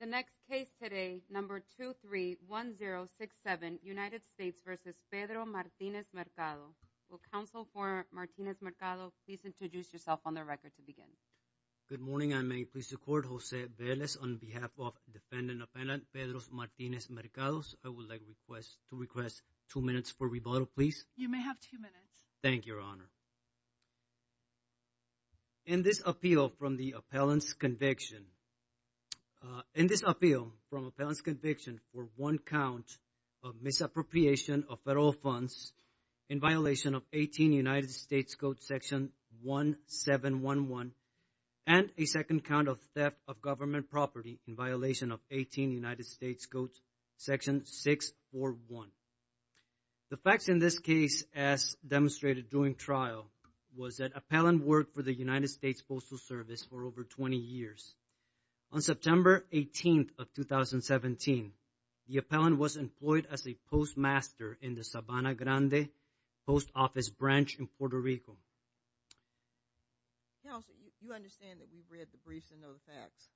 The next case today, number 231067, United States v. Pedro Martinez-Mercado. Will counsel for Martinez-Mercado please introduce yourself on the record to begin. Good morning. I may please the court, Jose Velez, on behalf of defendant-appellant Pedro Martinez-Mercado. I would like to request two minutes for rebuttal, please. You may have two minutes. Thank you, Your Honor. In this appeal from the appellant's conviction, in this appeal from appellant's conviction for one count of misappropriation of federal funds in violation of 18 United States Code section 1711 and a second count of theft of government property in violation of 18 United States Code section 641. The facts in this case as demonstrated during trial was that appellant worked for the United States Postal Service for over 20 years. On September 18th of 2017, the appellant was employed as a postmaster in the Sabana Grande Post Office Branch in Puerto Rico. Counsel, you understand that we've read the briefs and know the facts.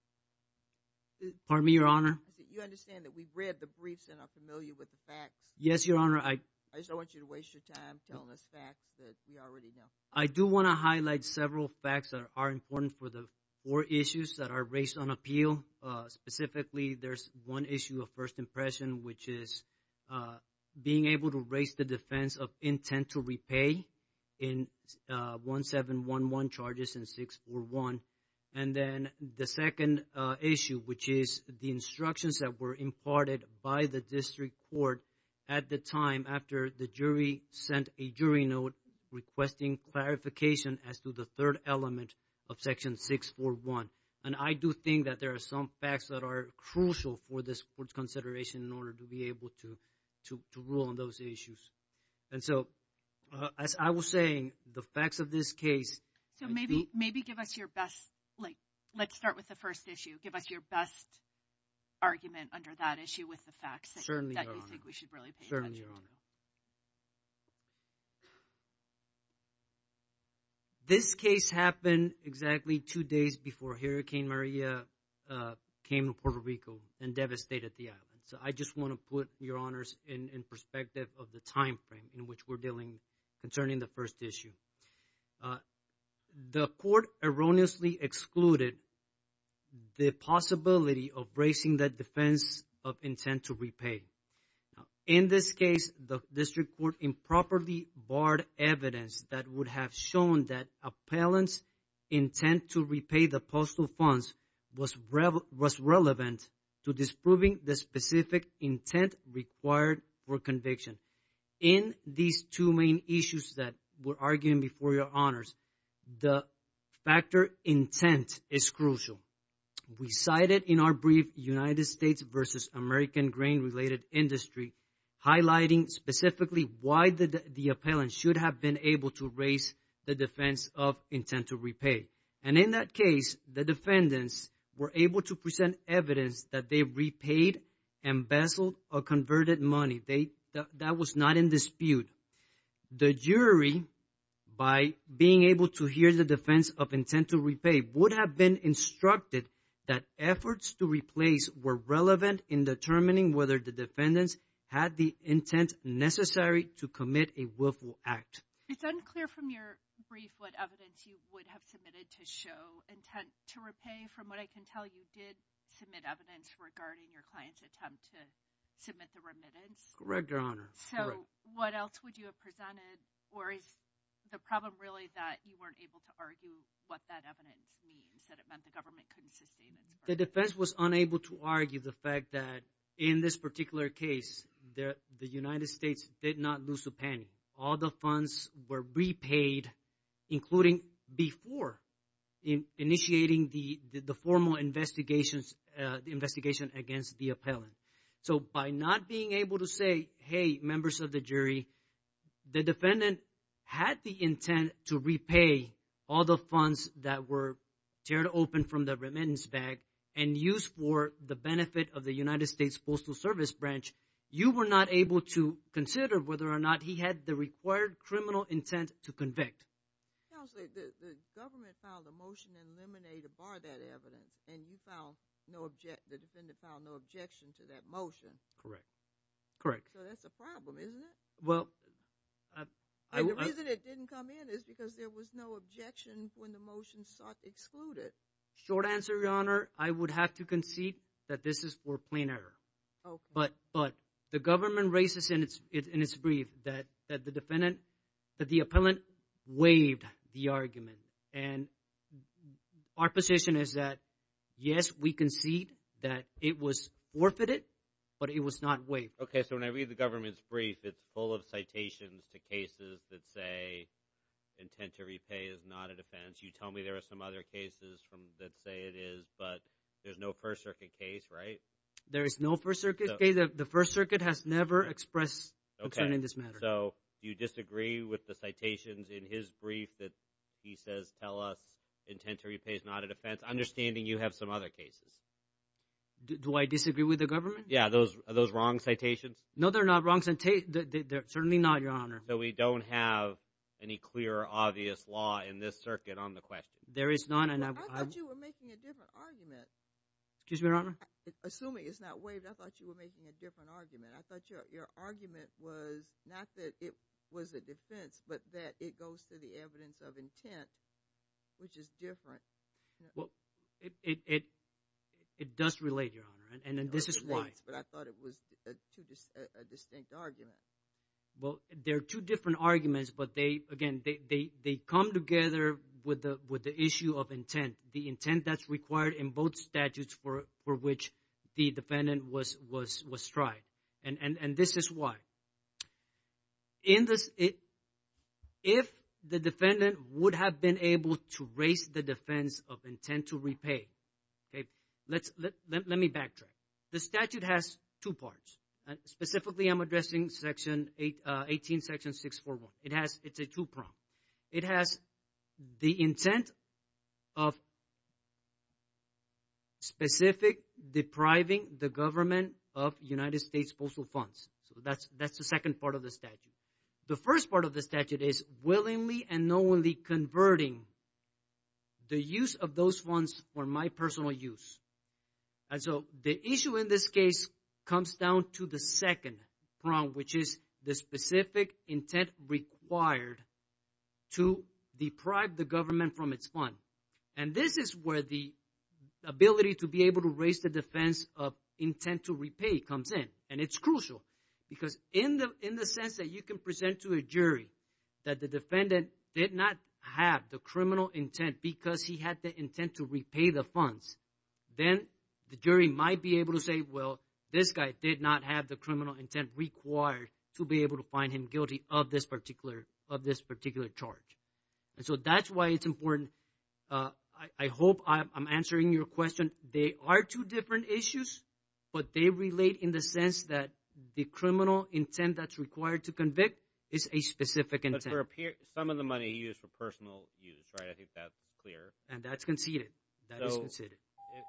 Pardon me, Your Honor? I said you understand that we've read the briefs and are familiar with the facts. Yes, Your Honor. I just don't want you to waste your time telling us facts that we already know. I do want to highlight several facts that are important for the four issues that are raised on appeal. Specifically, there's one issue of first impression, which is being able to raise the defense of intent to repay in 1711 charges and 641. And then the second issue, which is the instructions that were imparted by the district court at the time after the jury sent a jury note requesting clarification as to the third element of section 641. And I do think that there are some facts that are crucial for this court's consideration in order to be able to rule on those issues. And so, as I was saying, the facts of this case... So maybe give us your best, like, let's start with the first issue. Give us your best argument under that issue with the facts that you think we should really pay attention to. Certainly, Your Honor. This case happened exactly two days before Hurricane Maria came to Puerto Rico and devastated the island. So I just want to put, Your Honors, in perspective of the timeframe in which we're dealing concerning the first issue. The court erroneously excluded the possibility of raising the defense of intent to repay. In this case, the district court improperly barred evidence that would have shown that appellant's intent to repay the postal funds was relevant to disproving the specific intent required for conviction. In these two main issues that we're arguing before, Your Honors, the factor intent is crucial. We cited in our brief United States versus American Grain-related Industry, highlighting specifically why the appellant should have been able to raise the defense of intent to repay. And in that case, the defendants were able to present evidence that they repaid, embezzled, or converted money. That was not in dispute. The jury, by being able to hear the defense of intent to repay, would have been instructed that efforts to replace were relevant in determining whether the defendants had the intent necessary to commit a willful act. It's unclear from your brief what evidence you would have submitted to show intent to repay. From what I can tell, you did submit evidence regarding your client's attempt to submit the remittance. Correct, Your Honor. So what else would you have presented? Or is the problem really that you weren't able to argue what that evidence means, that it meant the government couldn't sustain its burden? The defense was unable to argue the fact that in this particular case, the United States did not lose a penny. All the funds were repaid, including before initiating the formal investigation against the appellant. So by not being able to say, hey, members of the jury, the defendant had the intent to repay all the funds that were teared open from the remittance bag and used for the benefit of the United States Postal Service Branch. You were not able to consider whether or not he had the required criminal intent to convict. Counsel, the government filed a motion to eliminate or bar that evidence, and the defendant filed no objection to that motion. Correct, correct. So that's a problem, isn't it? Well, I... And the reason it didn't come in is because there was no objection when the motion was excluded. Short answer, Your Honor, I would have to concede that this is for plain error. Okay. But the government raises in its brief that the defendant, that the appellant waived the argument. And our position is that, yes, we concede that it was forfeited, but it was not waived. Okay, so when I read the government's brief, it's full of citations to cases that say intent to repay is not a defense. You tell me there are some other cases that say it is, but there's no First Circuit case, right? There is no First Circuit case. The First Circuit has never expressed concern in this matter. So you disagree with the citations in his brief that he says tell us intent to repay is not a defense, understanding you have some other cases? Do I disagree with the government? Yeah. Are those wrong citations? No, they're not wrong citations. They're certainly not, Your Honor. So we don't have any clear, obvious law in this circuit on the question? There is none. I thought you were making a different argument. Excuse me, Your Honor? Assuming it's not waived, I thought you were making a different argument. I thought your argument was not that it was a defense, but that it goes to the evidence of intent, which is different. Well, it does relate, Your Honor, and this is why. But I thought it was a distinct argument. Well, they're two different arguments, but, again, they come together with the issue of intent. The intent that's required in both statutes for which the defendant was tried. And this is why. If the defendant would have been able to raise the defense of intent to repay, let me backtrack. The statute has two parts. Specifically, I'm addressing Section 18, Section 641. It's a two-prong. It has the intent of specific depriving the government of United States Postal Funds. So that's the second part of the statute. The first part of the statute is willingly and knowingly converting the use of those funds for my personal use. And so the issue in this case comes down to the second prong, which is the specific intent required to deprive the government from its fund. And this is where the ability to be able to raise the defense of intent to repay comes in, and it's crucial. Because in the sense that you can present to a jury that the defendant did not have the criminal intent because he had the intent to repay the funds, then the jury might be able to say, well, this guy did not have the criminal intent required to be able to find him guilty of this particular charge. And so that's why it's important. I hope I'm answering your question. And they are two different issues, but they relate in the sense that the criminal intent that's required to convict is a specific intent. But for some of the money he used for personal use, right? I think that's clear. And that's conceded. That is conceded. So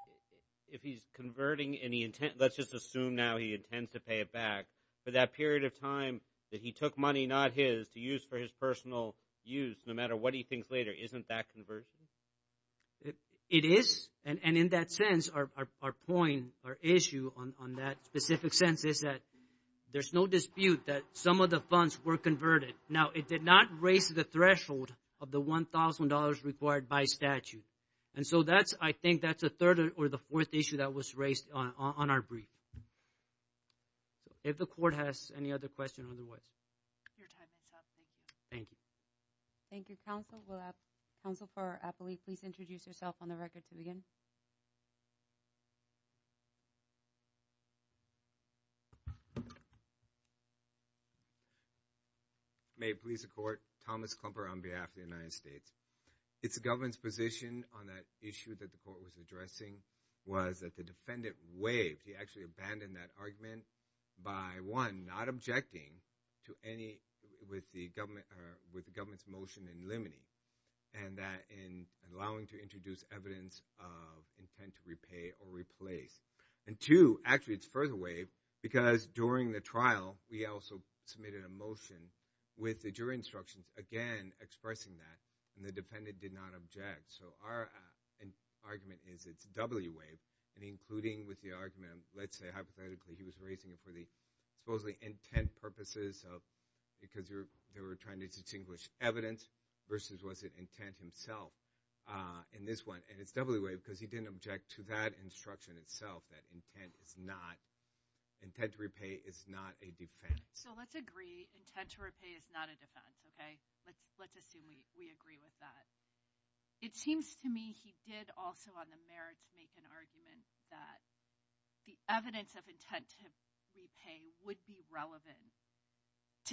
if he's converting and he – let's just assume now he intends to pay it back. For that period of time that he took money not his to use for his personal use, no matter what he thinks later, isn't that conversion? It is. And in that sense, our point, our issue on that specific sense is that there's no dispute that some of the funds were converted. Now, it did not raise the threshold of the $1,000 required by statute. And so that's – I think that's the third or the fourth issue that was raised on our brief. If the court has any other questions, otherwise. Your time is up. Thank you. Thank you. Thank you, counsel. Will counsel for Applee please introduce yourself on the record to begin? May it please the court. Thomas Klumper on behalf of the United States. It's the government's position on that issue that the court was addressing was that the defendant waived. He actually abandoned that argument by, one, not objecting to any – with the government's motion in limine. And that in allowing to introduce evidence of intent to repay or replace. And, two, actually it's further waived because during the trial we also submitted a motion with the jury instructions, again, expressing that. And the defendant did not object. So our argument is it's doubly waived. And including with the argument, let's say, hypothetically, he was raising it for the supposedly intent purposes of – because they were trying to distinguish evidence versus was it intent himself in this one. And it's doubly waived because he didn't object to that instruction itself, that intent is not – intent to repay is not a defense. So let's agree intent to repay is not a defense, okay? Let's assume we agree with that. It seems to me he did also on the merits make an argument that the evidence of intent to repay would be relevant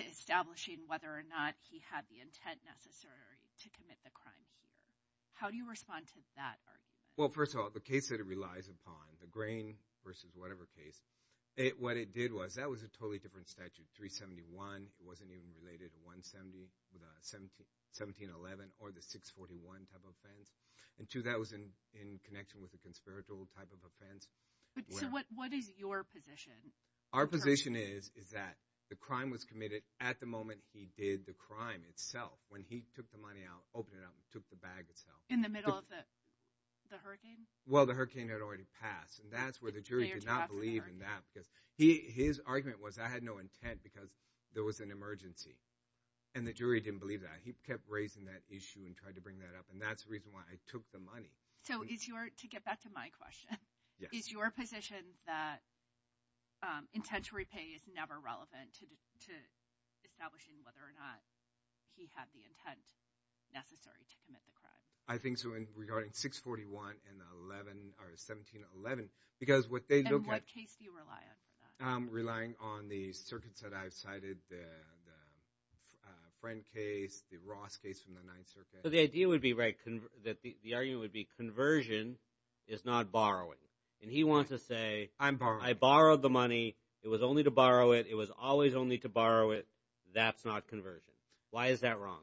to establishing whether or not he had the intent necessary to commit the crime here. How do you respond to that argument? Well, first of all, the case that it relies upon, the Grain versus whatever case, what it did was that was a totally different statute. It wasn't even related to 170 – 1711 or the 641 type of offense. And two, that was in connection with a conspiratorial type of offense. So what is your position? Our position is, is that the crime was committed at the moment he did the crime itself, when he took the money out, opened it up, and took the bag itself. In the middle of the hurricane? Well, the hurricane had already passed. And that's where the jury did not believe in that. Because his argument was I had no intent because there was an emergency. And the jury didn't believe that. He kept raising that issue and tried to bring that up. And that's the reason why I took the money. So is your – to get back to my question. Yes. Is your position that intent to repay is never relevant to establishing whether or not he had the intent necessary to commit the crime? I think so in regarding 641 and 11 – or 1711. Because what they look at – And what case do you rely on for that? I'm relying on the circuits that I've cited, the Friend case, the Ross case from the Ninth Circuit. So the idea would be – the argument would be conversion is not borrowing. And he wants to say – I'm borrowing. I borrowed the money. It was only to borrow it. It was always only to borrow it. That's not conversion. Why is that wrong?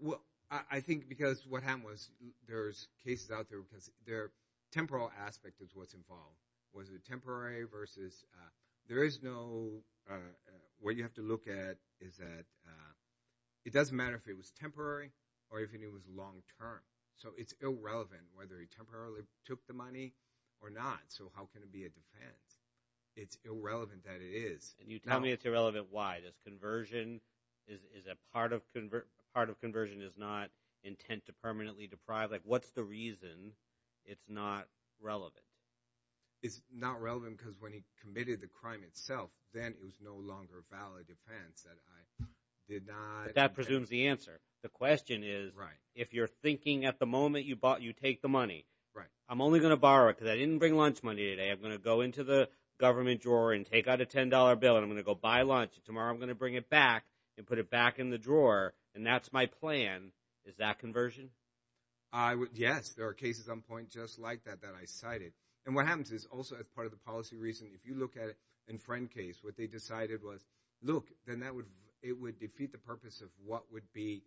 Well, I think because what happened was there's cases out there because their temporal aspect is what's involved. Was it temporary versus – there is no – what you have to look at is that it doesn't matter if it was temporary or if it was long-term. So it's irrelevant whether he temporarily took the money or not. So how can it be a defense? It's irrelevant that it is. And you tell me it's irrelevant why. Does conversion – is a part of conversion is not intent to permanently deprive? Like what's the reason it's not relevant? It's not relevant because when he committed the crime itself, then it was no longer a valid defense that I did not – But that presumes the answer. The question is if you're thinking at the moment you take the money, I'm only going to borrow it because I didn't bring lunch money today. I'm going to go into the government drawer and take out a $10 bill, and I'm going to go buy lunch. Tomorrow I'm going to bring it back and put it back in the drawer, and that's my plan. Is that conversion? Yes, there are cases on point just like that that I cited. And what happens is also as part of the policy reason, if you look at it in Friend case, what they decided was, look, then that would – it would defeat the purpose of what would be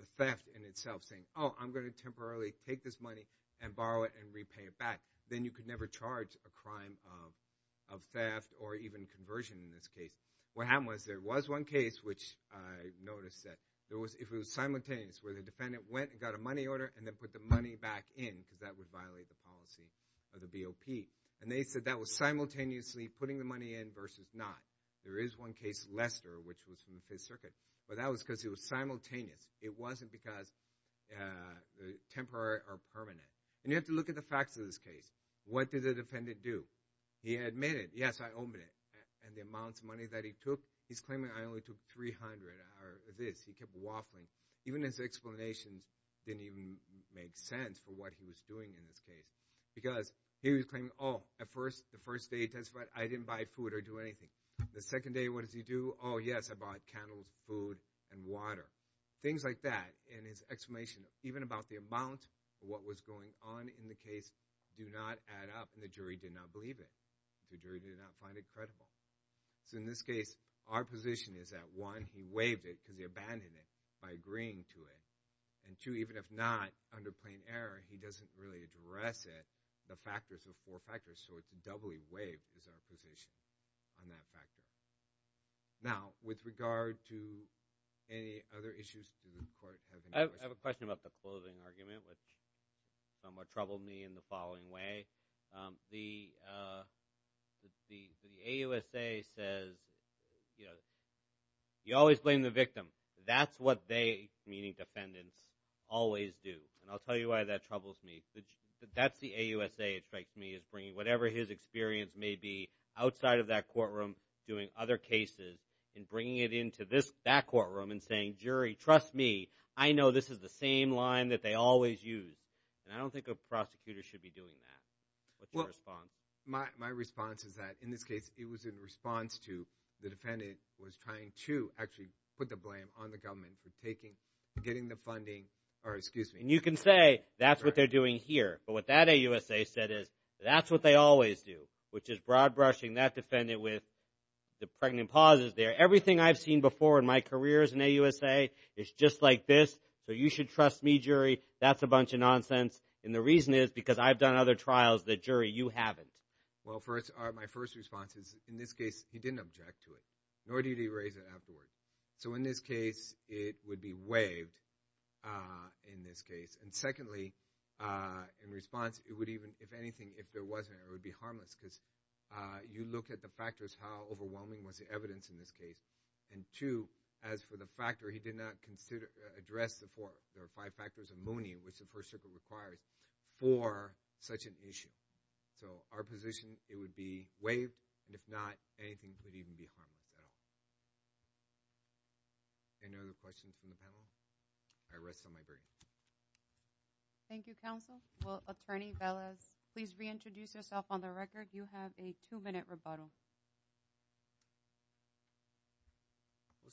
the theft in itself, saying, oh, I'm going to temporarily take this money and borrow it and repay it back. Then you could never charge a crime of theft or even conversion in this case. What happened was there was one case which I noticed that there was – if it was simultaneous where the defendant went and got a money order and then put the money back in because that would violate the policy of the BOP. And they said that was simultaneously putting the money in versus not. There is one case, Lester, which was from the Fifth Circuit, but that was because it was simultaneous. It wasn't because temporary or permanent. And you have to look at the facts of this case. What did the defendant do? He admitted, yes, I owned it. And the amount of money that he took, he's claiming I only took $300 or this. He kept waffling. Even his explanations didn't even make sense for what he was doing in this case because he was claiming, oh, at first, the first day he testified, I didn't buy food or do anything. The second day, what did he do? Oh, yes, I bought candles, food, and water, things like that. And his explanation, even about the amount of what was going on in the case, do not add up. And the jury did not believe it. The jury did not find it credible. So in this case, our position is that, one, he waived it because he abandoned it by agreeing to it. And, two, even if not, under plain error, he doesn't really address it, the factors of four factors. So it's a doubly waived is our position on that factor. Now, with regard to any other issues, do the court have any questions? I have a question about the clothing argument, which somewhat troubled me in the following way. The AUSA says, you know, you always blame the victim. That's what they, meaning defendants, always do. And I'll tell you why that troubles me. That's the AUSA, it strikes me, is bringing whatever his experience may be outside of that courtroom, doing other cases, and bringing it into that courtroom and saying, jury, trust me, I know this is the same line that they always use. And I don't think a prosecutor should be doing that. What's your response? My response is that, in this case, it was in response to the defendant was trying to actually put the blame on the government for taking, getting the funding, or excuse me. And you can say, that's what they're doing here. But what that AUSA said is, that's what they always do, which is broad brushing that defendant with the pregnant pauses there. Everything I've seen before in my career as an AUSA is just like this. So you should trust me, jury. That's a bunch of nonsense. And the reason is because I've done other trials that, jury, you haven't. Well, my first response is, in this case, he didn't object to it, nor did he raise it afterward. So in this case, it would be waived, in this case. And secondly, in response, it would even, if anything, if there wasn't, it would be harmless. Because you look at the factors, how overwhelming was the evidence in this case. And two, as for the factor, he did not address the four or five factors of Mooney, which the First Circuit requires, for such an issue. So our position, it would be waived. And if not, anything could even be harmless at all. Any other questions from the panel? I rest on my break. Thank you, counsel. Well, Attorney Velez, please reintroduce yourself on the record. You have a two-minute rebuttal.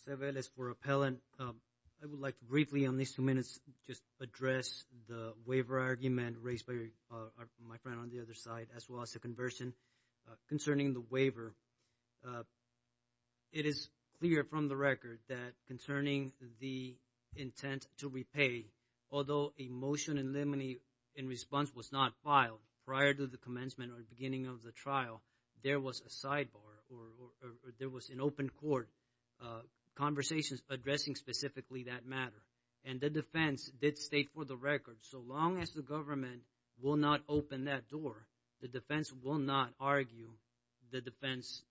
Jose Velez for appellant. I would like to briefly on these two minutes just address the waiver argument raised by my friend on the other side, as well as the conversion concerning the waiver. It is clear from the record that concerning the intent to repay, although a motion in limine in response was not filed prior to the commencement or beginning of the trial, there was a sidebar or there was an open court conversation addressing specifically that matter. And the defense did state for the record, so long as the government will not open that door, the defense will not argue the defense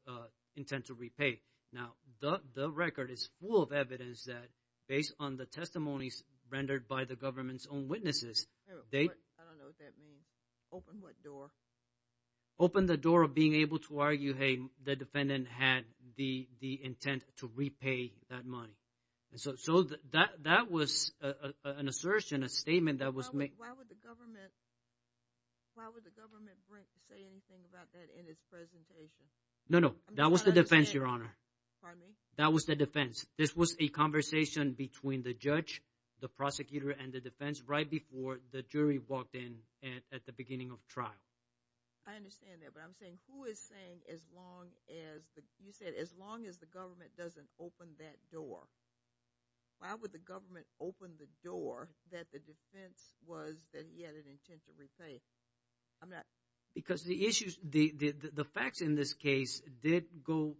intent to repay. Now, the record is full of evidence that based on the testimonies rendered by the government's own witnesses. I don't know what that means. Open what door? Open the door of being able to argue, hey, the defendant had the intent to repay that money. So that was an assertion, a statement that was made. Why would the government say anything about that in its presentation? No, no. That was the defense, Your Honor. Pardon me? That was the defense. This was a conversation between the judge, the prosecutor, and the defense right before the jury walked in at the beginning of trial. I understand that. But I'm saying who is saying as long as the – you said as long as the government doesn't open that door. Why would the government open the door that the defense was that he had an intent to repay? I'm not – Because the issues – the facts in this case did go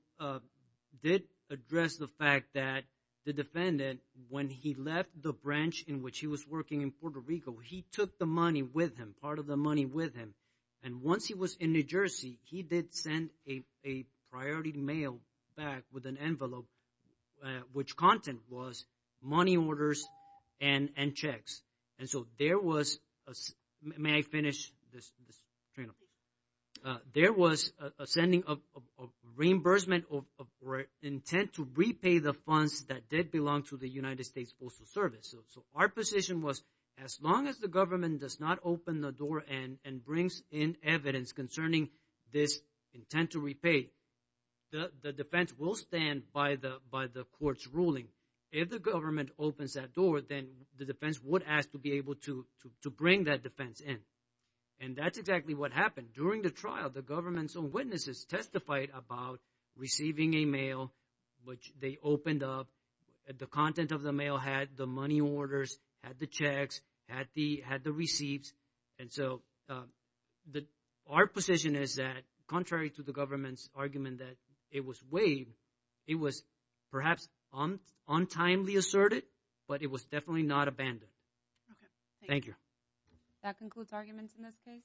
– did address the fact that the defendant, when he left the branch in which he was working in Puerto Rico, he took the money with him, part of the money with him. And once he was in New Jersey, he did send a priority mail back with an envelope, which content was money orders and checks. And so there was – may I finish this train of thought? There was a sending of reimbursement or intent to repay the funds that did belong to the United States Postal Service. So our position was as long as the government does not open the door and brings in evidence concerning this intent to repay, the defense will stand by the court's ruling. If the government opens that door, then the defense would ask to be able to bring that defense in. And that's exactly what happened. During the trial, the government's own witnesses testified about receiving a mail which they opened up. The content of the mail had the money orders, had the checks, had the receipts. And so our position is that contrary to the government's argument that it was waived, it was perhaps untimely asserted, but it was definitely not abandoned. Thank you. That concludes arguments in this case.